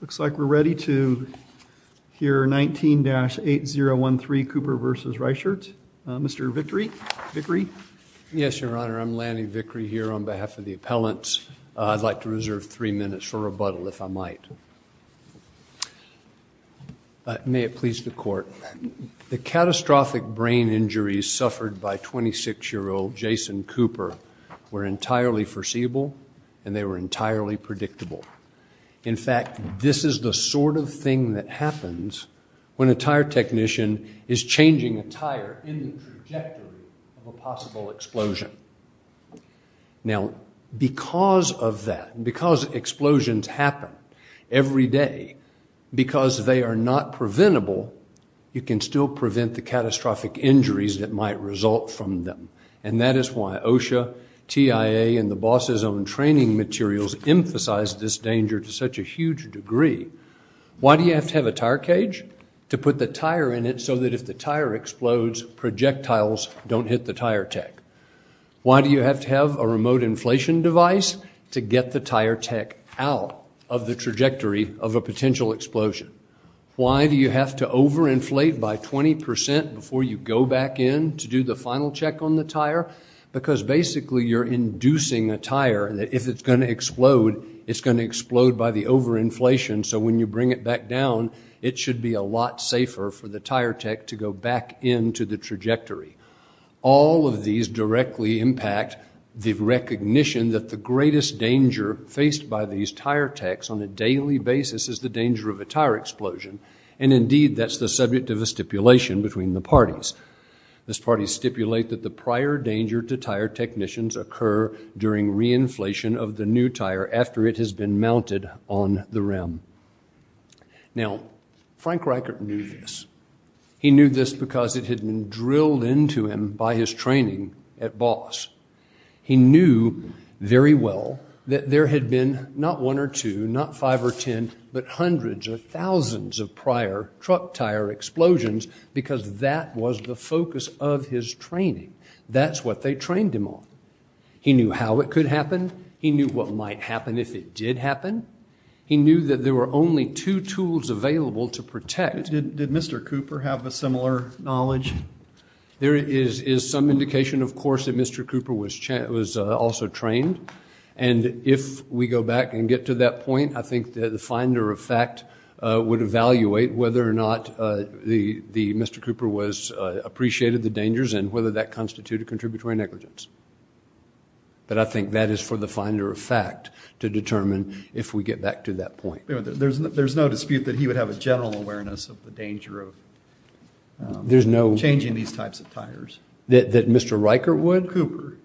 Looks like we're ready to hear 19-8013 Cooper v. Reichert. Mr. Vickery? Yes, Your Honor. I'm Lanny Vickery here on behalf of the appellants. I'd like to reserve three minutes for rebuttal, if I might. May it please the Court. The catastrophic brain injuries suffered by 26-year-old Jason Cooper were entirely foreseeable, and they were entirely predictable. In fact, this is the sort of thing that happens when a tire technician is changing a tire in the trajectory of a possible explosion. Now, because of that, because explosions happen every day, because they are not preventable, you can still prevent the catastrophic injuries that might result from them. And that is why OSHA, TIA, and the boss's own training materials emphasize this danger to such a huge degree. Why do you have to have a tire cage? To put the tire in it so that if the tire explodes, projectiles don't hit the tire tech. Why do you have to have a remote inflation device? To get the tire tech out of the trajectory of a potential explosion. Why do you have to overinflate by 20% before you go back in to do the final check on the tire? Because basically you're inducing a tire that if it's going to explode, it's going to explode by the overinflation, so when you bring it back down, it should be a lot safer for the tire tech to go back into the trajectory. All of these directly impact the recognition that the greatest danger faced by these tire techs on a daily basis is the danger of a tire explosion, and indeed that's the subject of a stipulation between the parties. These parties stipulate that the prior danger to tire technicians occur during reinflation of the new tire after it has been mounted on the rim. Now, Frank Reichert knew this. He knew this because it had been drilled into him by his training at BOSS. He knew very well that there had been not one or two, not five or ten, but hundreds of thousands of prior truck tire explosions because that was the focus of his training. That's what they trained him on. He knew how it could happen. He knew what might happen if it did happen. He knew that there were only two tools available to protect. Did Mr. Cooper have a similar knowledge? There is some indication, of course, that Mr. Cooper was also trained, and if we go back and get to that point, I think the finder of fact would evaluate whether or not Mr. Cooper appreciated the dangers and whether that constituted contributory negligence. But I think that is for the finder of fact to determine if we get back to that point. There's no dispute that he would have a general awareness of the danger of changing these types of tires. That Mr. Reichert would? Cooper.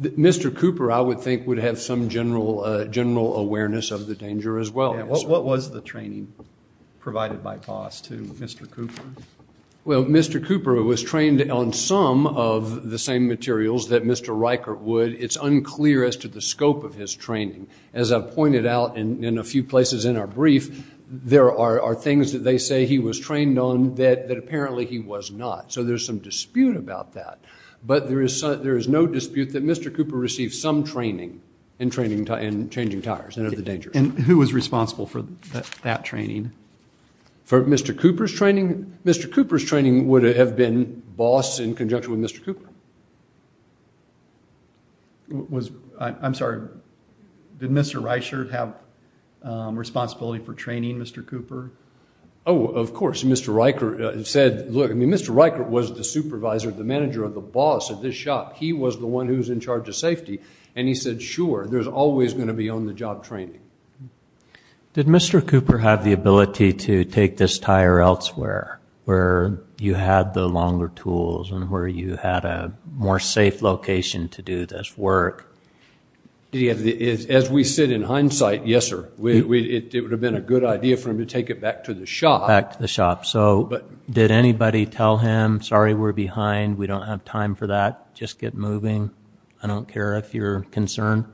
Mr. Cooper, I would think, would have some general awareness of the danger as well. What was the training provided by BOSS to Mr. Cooper? Well, Mr. Cooper was trained on some of the same materials that Mr. Reichert would. It's unclear as to the scope of his training. As I've pointed out in a few places in our brief, there are things that they say he was trained on that apparently he was not. So there's some dispute about that. But there is no dispute that Mr. Cooper received some training in changing tires and of the dangers. And who was responsible for that training? For Mr. Cooper's training? Mr. Cooper's training would have been BOSS in conjunction with Mr. Cooper. I'm sorry. Did Mr. Reichert have responsibility for training Mr. Cooper? Oh, of course. Mr. Reichert said, look, I mean, Mr. Reichert was the supervisor, the manager of the BOSS at this shop. He was the one who was in charge of safety. And he said, sure, there's always going to be on-the-job training. Did Mr. Cooper have the ability to take this tire elsewhere where you had the longer tools and where you had a more safe location to do this work? As we said, in hindsight, yes, sir. It would have been a good idea for him to take it back to the shop. Back to the shop. So did anybody tell him, sorry, we're behind, we don't have time for that, just get moving? I don't care if you're concerned.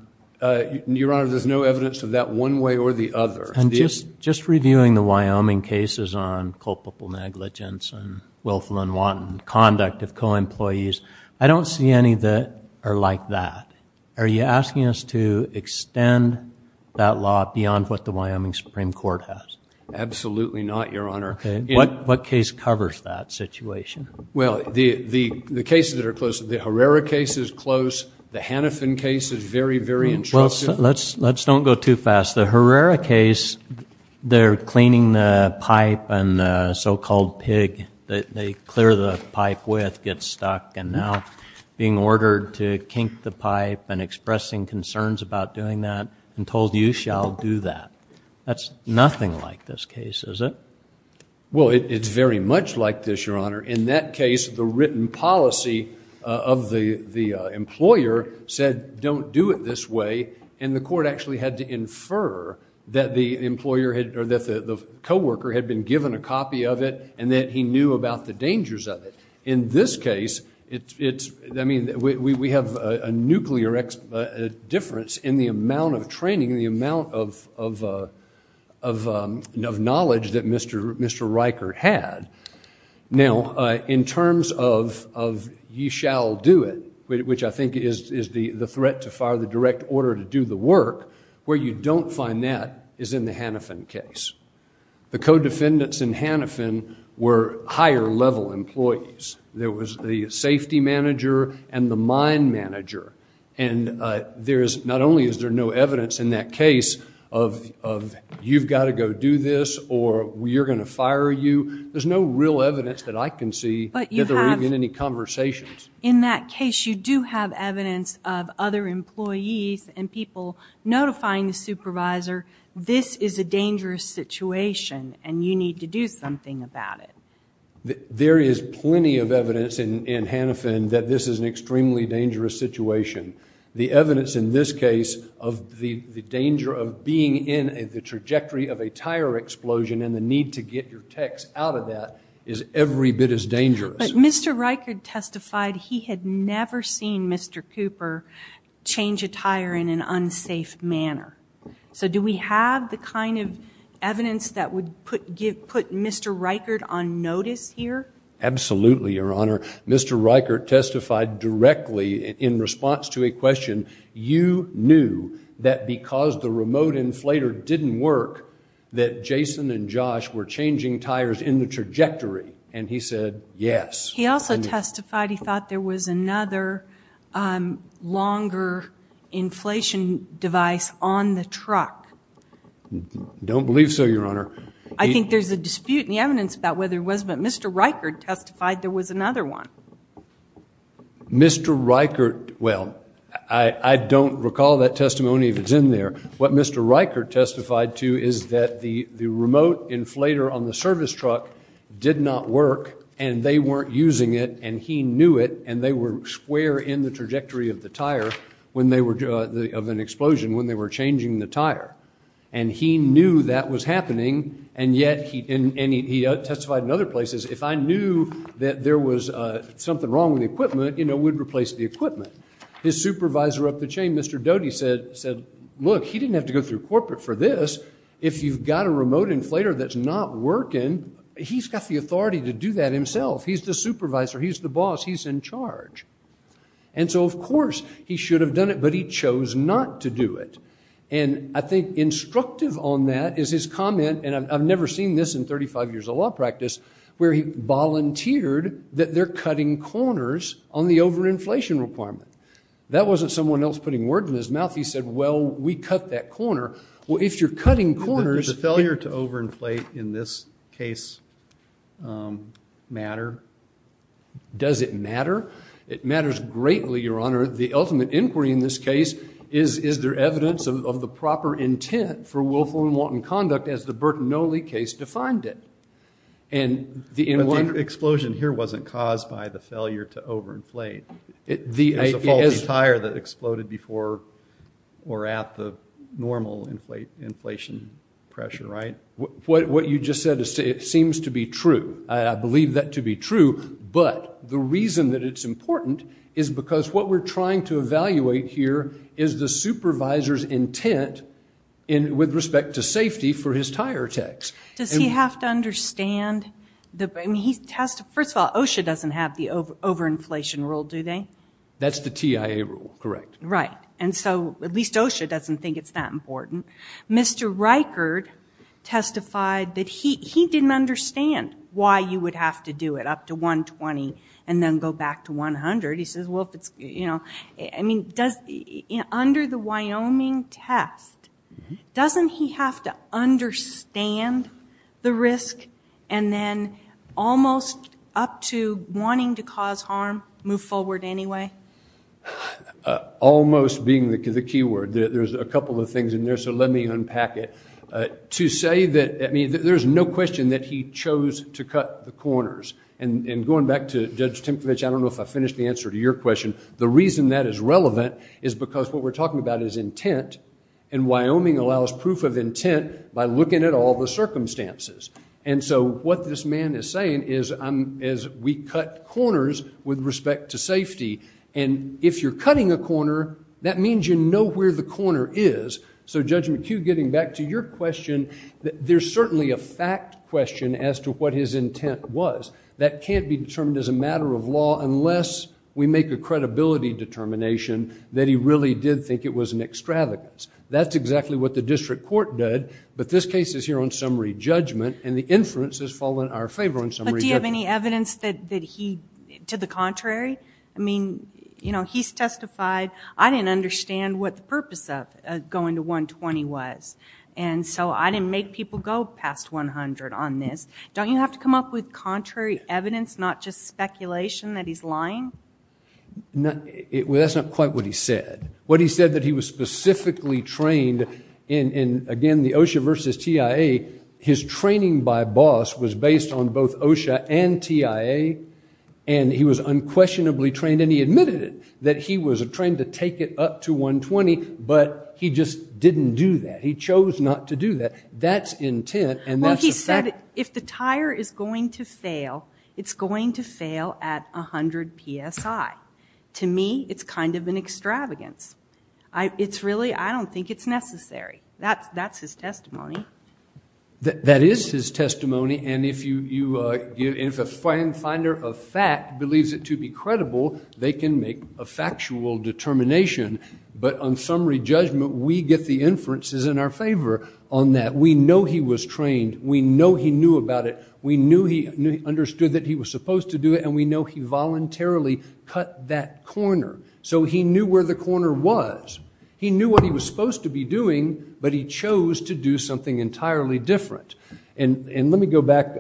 Your Honor, there's no evidence of that one way or the other. Just reviewing the Wyoming cases on culpable negligence and willful and wanton conduct of co-employees, I don't see any that are like that. Are you asking us to extend that law beyond what the Wyoming Supreme Court has? Absolutely not, Your Honor. What case covers that situation? Well, the cases that are close, the Herrera case is close, the Hannafin case is very, very intrusive. Let's don't go too fast. The Herrera case, they're cleaning the pipe and the so-called pig that they clear the pipe with gets stuck and now being ordered to kink the pipe and expressing concerns about doing that and told you shall do that. That's nothing like this case, is it? Well, it's very much like this, Your Honor. In that case, the written policy of the employer said don't do it this way, and the court actually had to infer that the co-worker had been given a copy of it and that he knew about the dangers of it. In this case, we have a nuclear difference in the amount of training, the amount of knowledge that Mr. Riker had. Now, in terms of you shall do it, which I think is the threat to fire the direct order to do the work, where you don't find that is in the Hannafin case. The co-defendants in Hannafin were higher-level employees. There was the safety manager and the mine manager, and not only is there no evidence in that case of you've got to go do this or we're going to fire you, there's no real evidence that I can see that there were even any conversations. In that case, you do have evidence of other employees and people notifying the supervisor, this is a dangerous situation and you need to do something about it. There is plenty of evidence in Hannafin that this is an extremely dangerous situation. The evidence in this case of the danger of being in the trajectory of a tire explosion and the need to get your techs out of that is every bit as dangerous. But Mr. Riker testified he had never seen Mr. Cooper change a tire in an unsafe manner. So do we have the kind of evidence that would put Mr. Riker on notice here? Absolutely, Your Honor. Mr. Riker testified directly in response to a question, you knew that because the remote inflator didn't work that Jason and Josh were changing tires in the trajectory, and he said yes. He also testified he thought there was another longer inflation device on the truck. Don't believe so, Your Honor. I think there's a dispute in the evidence about whether it was, but Mr. Riker testified there was another one. Mr. Riker, well, I don't recall that testimony if it's in there. What Mr. Riker testified to is that the remote inflator on the service truck did not work and they weren't using it and he knew it and they were square in the trajectory of the tire of an explosion when they were changing the tire. And he knew that was happening and yet he testified in other places, if I knew that there was something wrong with the equipment, you know, we'd replace the equipment. His supervisor up the chain, Mr. Doty, said, look, he didn't have to go through corporate for this. If you've got a remote inflator that's not working, he's got the authority to do that himself. He's the supervisor. He's the boss. He's in charge. And so, of course, he should have done it, but he chose not to do it. And I think instructive on that is his comment, and I've never seen this in 35 years of law practice, where he volunteered that they're cutting corners on the overinflation requirement. That wasn't someone else putting words in his mouth. He said, well, we cut that corner. Well, if you're cutting corners. Does the failure to overinflate in this case matter? Does it matter? It matters greatly, Your Honor. The ultimate inquiry in this case is, is there evidence of the proper intent for willful and wanton conduct, as the Bertonelli case defined it. But the explosion here wasn't caused by the failure to overinflate. It was a faulty tire that exploded before or at the normal inflation pressure, right? What you just said seems to be true. I believe that to be true. But the reason that it's important is because what we're trying to evaluate here is the supervisor's intent with respect to safety for his tire tax. Does he have to understand? First of all, OSHA doesn't have the overinflation rule, do they? That's the TIA rule, correct. Right. And so at least OSHA doesn't think it's that important. Mr. Reichert testified that he didn't understand why you would have to do it up to 120 and then go back to 100. He says, well, if it's, you know, I mean, under the Wyoming test, doesn't he have to understand the risk and then almost up to wanting to cause harm move forward anyway? Almost being the key word. There's a couple of things in there, so let me unpack it. To say that, I mean, there's no question that he chose to cut the corners. And going back to Judge Tinkovich, I don't know if I finished the answer to your question. The reason that is relevant is because what we're talking about is intent. And Wyoming allows proof of intent by looking at all the circumstances. And so what this man is saying is we cut corners with respect to safety. And if you're cutting a corner, that means you know where the corner is. So, Judge McHugh, getting back to your question, there's certainly a fact question as to what his intent was. That can't be determined as a matter of law unless we make a credibility determination that he really did think it was an extravagance. That's exactly what the district court did. But this case is here on summary judgment, and the inference has fallen in our favor on summary judgment. But do you have any evidence that he did the contrary? I mean, you know, he's testified, I didn't understand what the purpose of going to 120 was. And so I didn't make people go past 100 on this. Don't you have to come up with contrary evidence, not just speculation that he's lying? Well, that's not quite what he said. What he said that he was specifically trained in, again, the OSHA versus TIA, his training by boss was based on both OSHA and TIA, and he was unquestionably trained, and he admitted it, that he was trained to take it up to 120, but he just didn't do that. He chose not to do that. That's intent, and that's the fact. Well, he said if the tire is going to fail, it's going to fail at 100 PSI. To me, it's kind of an extravagance. It's really, I don't think it's necessary. That's his testimony. That is his testimony, and if a finder of fact believes it to be credible, they can make a factual determination. But on summary judgment, we get the inferences in our favor on that. We know he was trained. We know he knew about it. We knew he understood that he was supposed to do it, and we know he voluntarily cut that corner. So he knew where the corner was. He knew what he was supposed to be doing, but he chose to do something entirely different. And let me go back,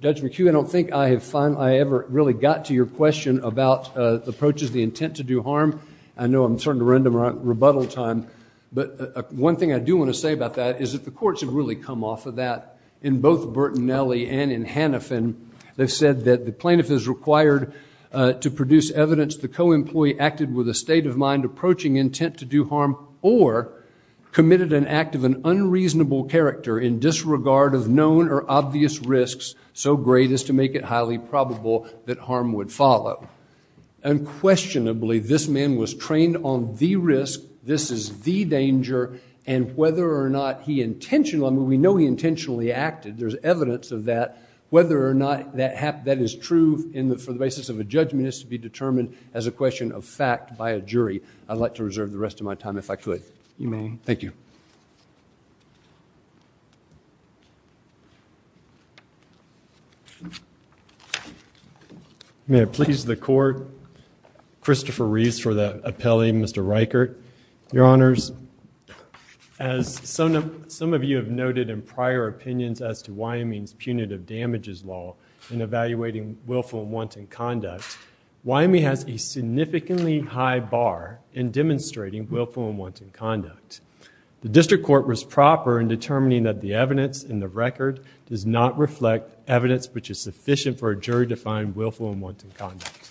Judge McHugh, I don't think I ever really got to your question about approaches to the intent to do harm. I know I'm starting to run to my rebuttal time, but one thing I do want to say about that is that the courts have really come off of that. In both Bertinelli and in Hanifin, they've said that the plaintiff is required to produce evidence, the co-employee acted with a state of mind approaching intent to do harm or committed an act of an unreasonable character in disregard of known or obvious risks, so great as to make it highly probable that harm would follow. Unquestionably, this man was trained on the risk, this is the danger, and whether or not he intentionally, I mean we know he intentionally acted, there's evidence of that, whether or not that is true for the basis of a judgment is to be determined as a question of fact by a jury. I'd like to reserve the rest of my time if I could. You may. Thank you. Thank you. May it please the court, Christopher Reeves for the appellee, Mr. Reichert. Your Honors, as some of you have noted in prior opinions as to Wyoming's punitive damages law in evaluating willful and wanton conduct, Wyoming has a significantly high bar in demonstrating willful and wanton conduct. The district court was proper in determining that the evidence in the record does not reflect evidence which is sufficient for a jury to find willful and wanton conduct,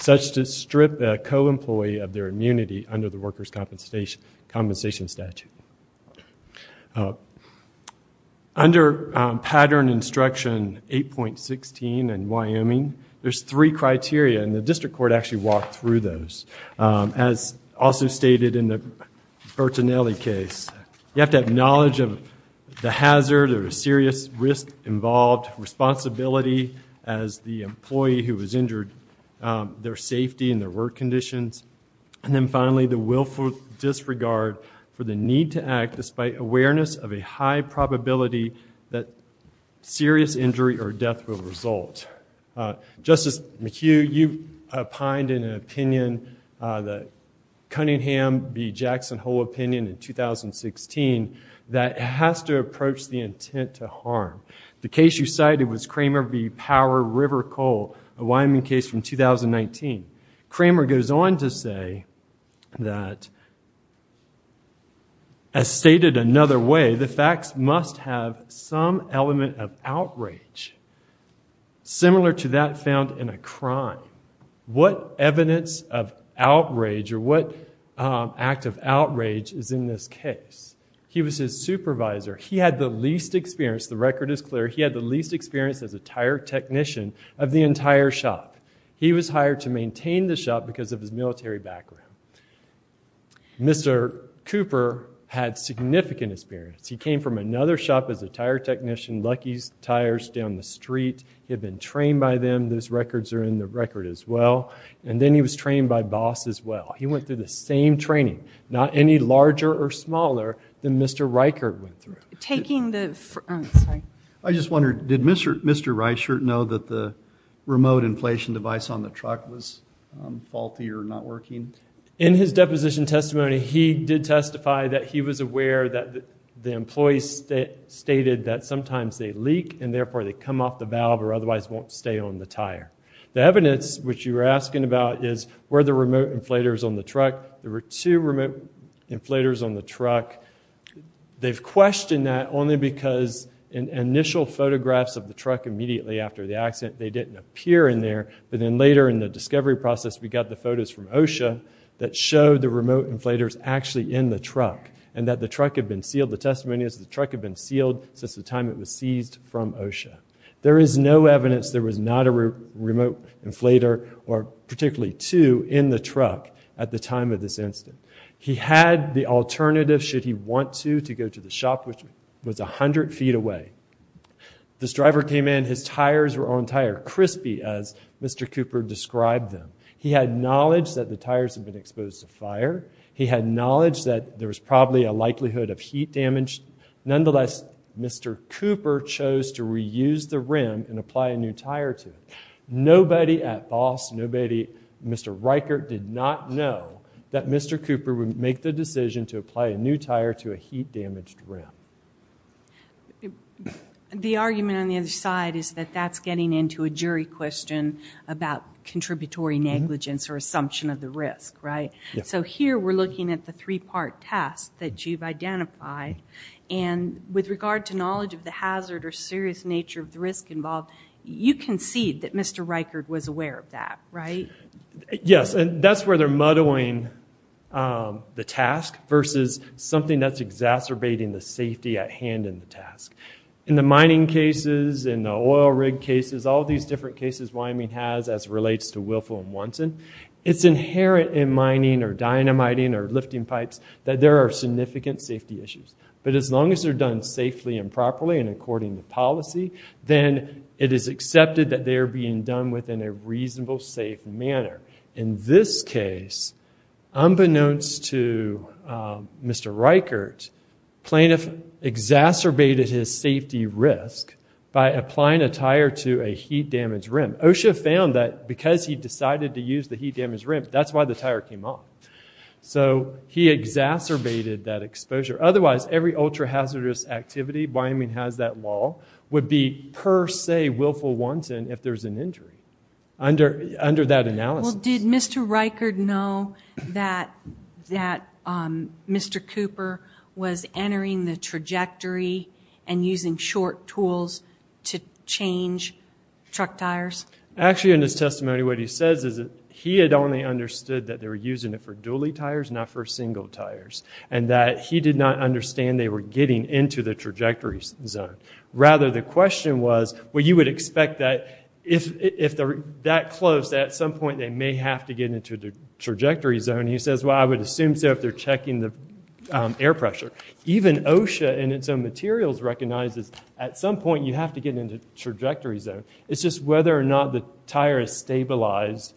such to strip a co-employee of their immunity under the workers' compensation statute. Under pattern instruction 8.16 in Wyoming, there's three criteria, and the district court actually walked through those. As also stated in the Bertonelli case, you have to have knowledge of the hazard or the serious risk involved, responsibility as the employee who has injured their safety and their work conditions, and then finally the willful disregard for the need to act despite awareness of a high probability that serious injury or death will result. Justice McHugh, you opined in an opinion, the Cunningham v. Jackson whole opinion in 2016, that it has to approach the intent to harm. The case you cited was Kramer v. Power, River, Cole, a Wyoming case from 2019. Kramer goes on to say that, as stated another way, the facts must have some element of outrage similar to that found in a crime. What evidence of outrage or what act of outrage is in this case? He was his supervisor. He had the least experience. The record is clear. He had the least experience as a tire technician of the entire shop. He was hired to maintain the shop because of his military background. Mr. Cooper had significant experience. He came from another shop as a tire technician, Lucky's Tires, down the street. He had been trained by them. Those records are in the record as well. And then he was trained by Boss as well. He went through the same training, not any larger or smaller than Mr. Reichert went through. Taking the, oh, sorry. I just wondered, did Mr. Reichert know that the remote inflation device on the truck was faulty or not working? In his deposition testimony, he did testify that he was aware that the employees stated that sometimes they leak and therefore they come off the valve or otherwise won't stay on the tire. The evidence, which you were asking about, is where the remote inflators on the truck. There were two remote inflators on the truck. They've questioned that only because in initial photographs of the truck immediately after the accident, they didn't appear in there, but then later in the discovery process, we got the photos from OSHA that showed the remote inflators actually in the truck and that the truck had been sealed. The testimony is the truck had been sealed since the time it was seized from OSHA. There is no evidence there was not a remote inflator or particularly two in the truck at the time of this incident. He had the alternative, should he want to, to go to the shop, which was 100 feet away. This driver came in. His tires were on tire, crispy as Mr. Cooper described them. He had knowledge that the tires had been exposed to fire. He had knowledge that there was probably a likelihood of heat damage. Nonetheless, Mr. Cooper chose to reuse the rim and apply a new tire to it. Nobody at BOSS, Mr. Reichert did not know that Mr. Cooper would make the decision to apply a new tire to a heat-damaged rim. The argument on the other side is that that's getting into a jury question about contributory negligence or assumption of the risk, right? So here we're looking at the three-part test that you've identified, and with regard to knowledge of the hazard or serious nature of the risk involved, you concede that Mr. Reichert was aware of that, right? Yes, and that's where they're muddling the task versus something that's exacerbating the safety at hand in the task. In the mining cases, in the oil rig cases, all these different cases Wyoming has as relates to Willful and Wonson, it's inherent in mining or dynamiting or lifting pipes that there are significant safety issues. But as long as they're done safely and properly and according to policy, then it is accepted that they are being done within a reasonable, safe manner. In this case, unbeknownst to Mr. Reichert, plaintiff exacerbated his safety risk by applying a tire to a heat-damaged rim. OSHA found that because he decided to use the heat-damaged rim, that's why the tire came off. So he exacerbated that exposure. Otherwise, every ultra-hazardous activity Wyoming has that law would be per se Willful-Wonson if there's an injury under that analysis. Well, did Mr. Reichert know that Mr. Cooper was entering the trajectory and using short tools to change truck tires? Actually, in his testimony, what he says is that he had only understood that they were using it for dually tires, not for single tires, and that he did not understand they were getting into the trajectory zone. Rather, the question was, well, you would expect that if they're that close, at some point they may have to get into the trajectory zone. He says, well, I would assume so if they're checking the air pressure. Even OSHA in its own materials recognizes at some point you have to get into trajectory zone. It's just whether or not the tire is stabilized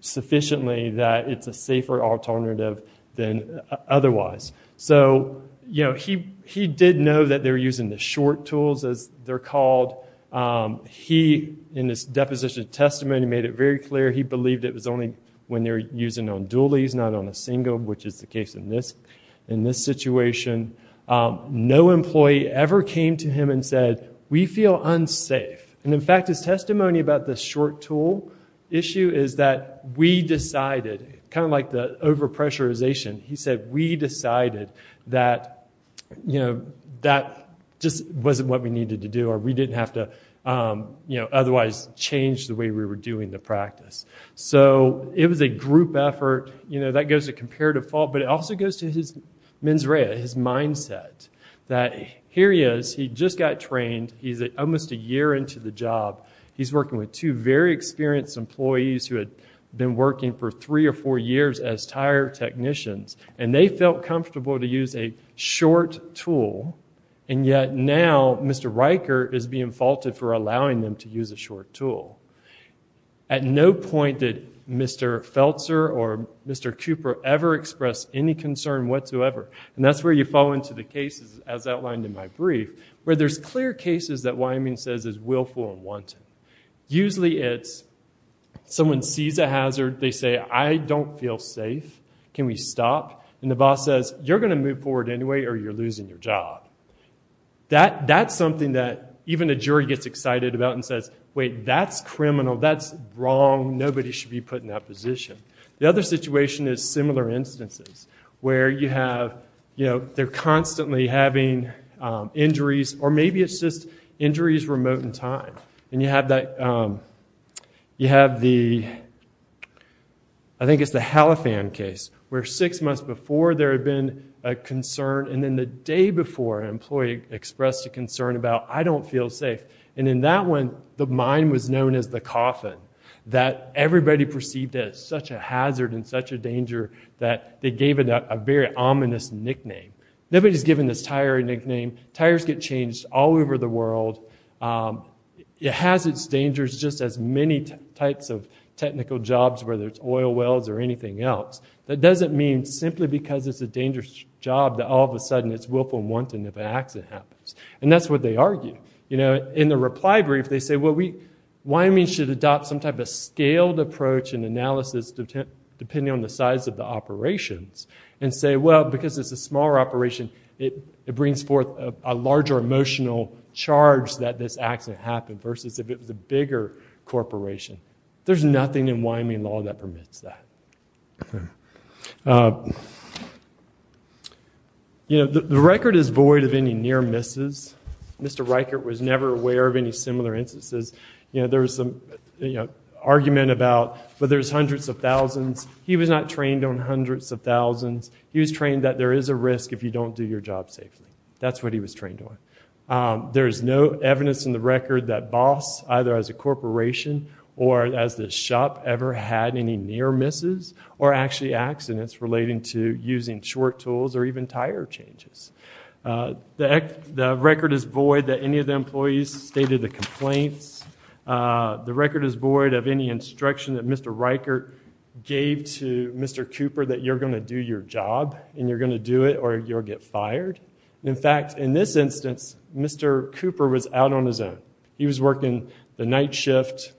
sufficiently that it's a safer alternative than otherwise. So he did know that they were using the short tools, as they're called. He, in his deposition testimony, made it very clear. He believed it was only when they were using on duallys, not on a single, which is the case in this situation. No employee ever came to him and said, we feel unsafe. In fact, his testimony about the short tool issue is that we decided, kind of like the over-pressurization, he said, we decided that that just wasn't what we needed to do, or we didn't have to otherwise change the way we were doing the practice. It was a group effort. That goes to comparative fault, but it also goes to his mens rea, his mindset. Here he is, he just got trained. He's almost a year into the job. He's working with two very experienced employees who had been working for three or four years as tire technicians. They felt comfortable to use a short tool, and yet now Mr. Riker is being faulted for allowing them to use a short tool. At no point did Mr. Feltzer or Mr. Cooper ever express any concern whatsoever. That's where you fall into the cases, as outlined in my brief, where there's clear cases that Wyoming says is willful and wanted. Usually it's someone sees a hazard, they say, I don't feel safe. Can we stop? The boss says, you're going to move forward anyway, or you're losing your job. That's something that even a jury gets excited about and says, wait, that's criminal, that's wrong, nobody should be put in that position. The other situation is similar instances, where they're constantly having injuries, or maybe it's just injuries remote in time. And you have the, I think it's the Halifan case, where six months before there had been a concern, and then the day before an employee expressed a concern about, I don't feel safe. And in that one, the mine was known as the coffin, that everybody perceived as such a hazard and such a danger that they gave it a very ominous nickname. Nobody's given this tire a nickname. Tires get changed all over the world. It has its dangers just as many types of technical jobs, whether it's oil wells or anything else. That doesn't mean simply because it's a dangerous job that all of a sudden it's willful and wanted and if an accident happens. And that's what they argue. In the reply brief, they say, Wyoming should adopt some type of scaled approach and analysis depending on the size of the operations, and say, well, because it's a smaller operation, it brings forth a larger emotional charge that this accident happened versus if it was a bigger corporation. There's nothing in Wyoming law that permits that. The record is void of any near misses. Mr. Reichert was never aware of any similar instances. There was some argument about, well, there's hundreds of thousands. He was not trained on hundreds of thousands. He was trained that there is a risk if you don't do your job safely. That's what he was trained on. There is no evidence in the record that BOSS, either as a corporation or as the shop ever had any near misses or actually accidents relating to using short tools or even tire changes. The record is void that any of the employees stated the complaints. The record is void of any instruction that Mr. Reichert gave to Mr. Cooper that you're going to do your job and you're going to do it or you'll get fired. In fact, in this instance, Mr. Cooper was out on his own. He was working the night shift.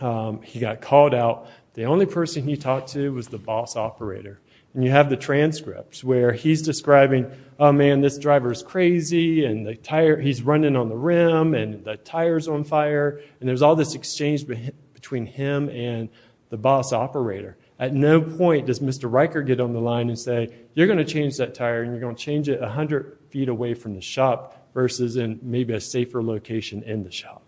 He got called out. The only person he talked to was the BOSS operator. And you have the transcripts where he's describing, oh, man, this driver's crazy and he's running on the rim and the tire's on fire, and there's all this exchange between him and the BOSS operator. At no point does Mr. Reichert get on the line and say, you're going to change that tire and you're going to change it 100 feet away from the shop versus in maybe a safer location in the shop.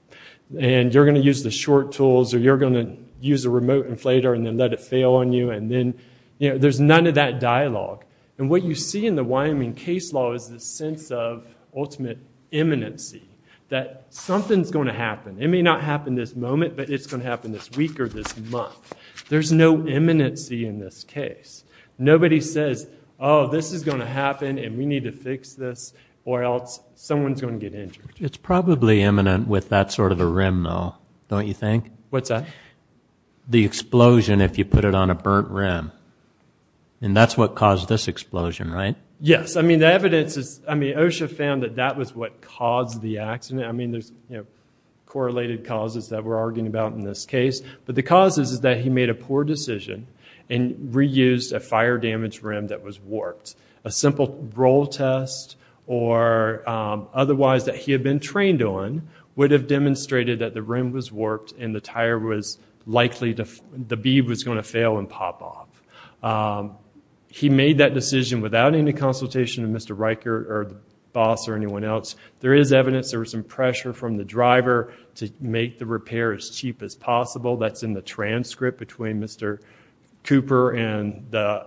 And you're going to use the short tools or you're going to use a remote inflator and then let it fail on you, and then, you know, there's none of that dialogue. And what you see in the Wyoming case law is this sense of ultimate imminency, that something's going to happen. It may not happen this moment, but it's going to happen this week or this month. There's no imminency in this case. Nobody says, oh, this is going to happen and we need to fix this or else someone's going to get injured. It's probably imminent with that sort of a rim, though, don't you think? What's that? The explosion if you put it on a burnt rim. And that's what caused this explosion, right? Yes. I mean, the evidence is, I mean, OSHA found that that was what caused the accident. I mean, there's, you know, correlated causes that we're arguing about in this case. But the cause is that he made a poor decision and reused a fire-damaged rim that was warped. A simple roll test or otherwise that he had been trained on would have demonstrated that the rim was warped and the tire was likely to, the bead was going to fail and pop off. He made that decision without any consultation of Mr. Riker or the boss or anyone else. There is evidence there was some pressure from the driver to make the repair as cheap as possible. That's in the transcript between Mr. Cooper and the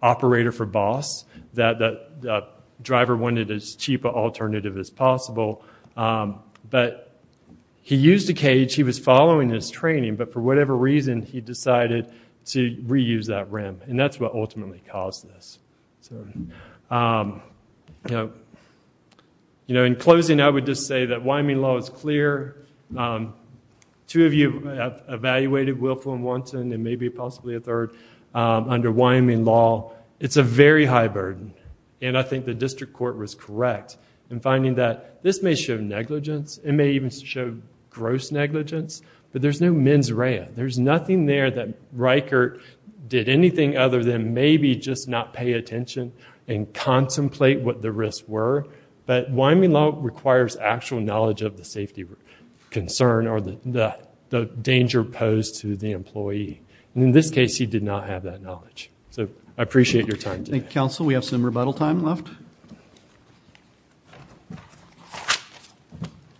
operator for boss, that the driver wanted as cheap an alternative as possible. But he used a cage. He was following his training. But for whatever reason, he decided to reuse that rim. And that's what ultimately caused this. So, you know, in closing, I would just say that Wyoming law is clear. Two of you have evaluated Willful and Wanton and maybe possibly a third under Wyoming law. It's a very high burden. And I think the district court was correct in finding that this may show negligence. It may even show gross negligence. But there's no mens rea. There's nothing there that Riker did anything other than maybe just not pay attention and contemplate what the risks were. But Wyoming law requires actual knowledge of the safety concern or the danger posed to the employee. And in this case, he did not have that knowledge. So I appreciate your time today. Thank you, counsel. We have some rebuttal time left.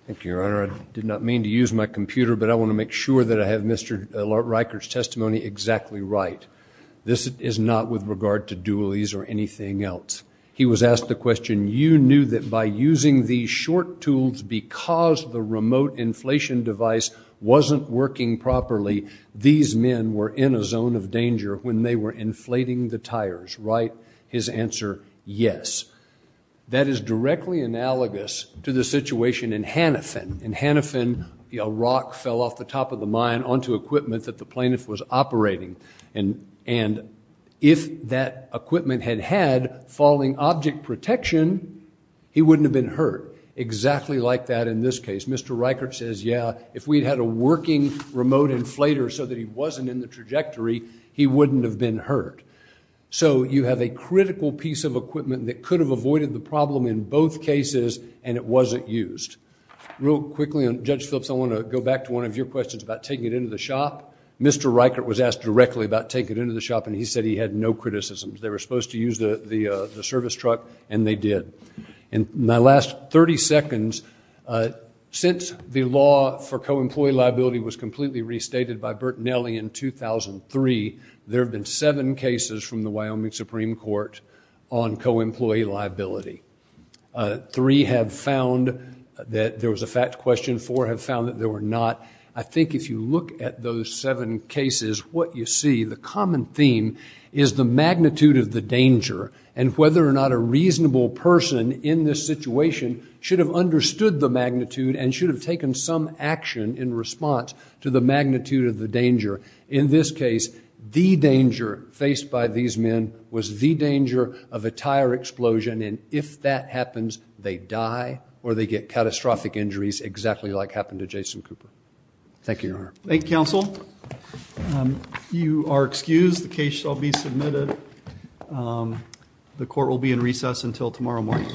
Thank you, Your Honor. I did not mean to use my computer, but I want to make sure that I have Mr. Riker's testimony exactly right. This is not with regard to Dualies or anything else. He was asked the question, you knew that by using these short tools because the remote inflation device wasn't working properly, these men were in a zone of danger when they were inflating the tires, right? His answer, yes. That is directly analogous to the situation in Hanifin. In Hanifin, a rock fell off the top of the mine onto equipment that the plaintiff was operating. And if that equipment had had falling object protection, he wouldn't have been hurt. Exactly like that in this case. Mr. Riker says, yeah, if we'd had a working remote inflator so that he wasn't in the trajectory, he wouldn't have been hurt. So you have a critical piece of equipment that could have avoided the problem in both cases, and it wasn't used. Real quickly, Judge Phillips, I want to go back to one of your questions about taking it into the shop. Mr. Riker was asked directly about taking it into the shop, and he said he had no criticisms. They were supposed to use the service truck, and they did. In my last 30 seconds, since the law for co-employee liability was completely restated by Bertinelli in 2003, there have been seven cases from the Wyoming Supreme Court on co-employee liability. Three have found that there was a fact question. Four have found that there were not. I think if you look at those seven cases, what you see, the common theme is the magnitude of the danger and whether or not a reasonable person in this situation should have understood the magnitude and should have taken some action in response to the magnitude of the danger. In this case, the danger faced by these men was the danger of a tire explosion, and if that happens, they die or they get catastrophic injuries exactly like happened to Jason Cooper. Thank you, Your Honor. Thank you, counsel. You are excused. The case shall be submitted. The court will be in recess until tomorrow morning.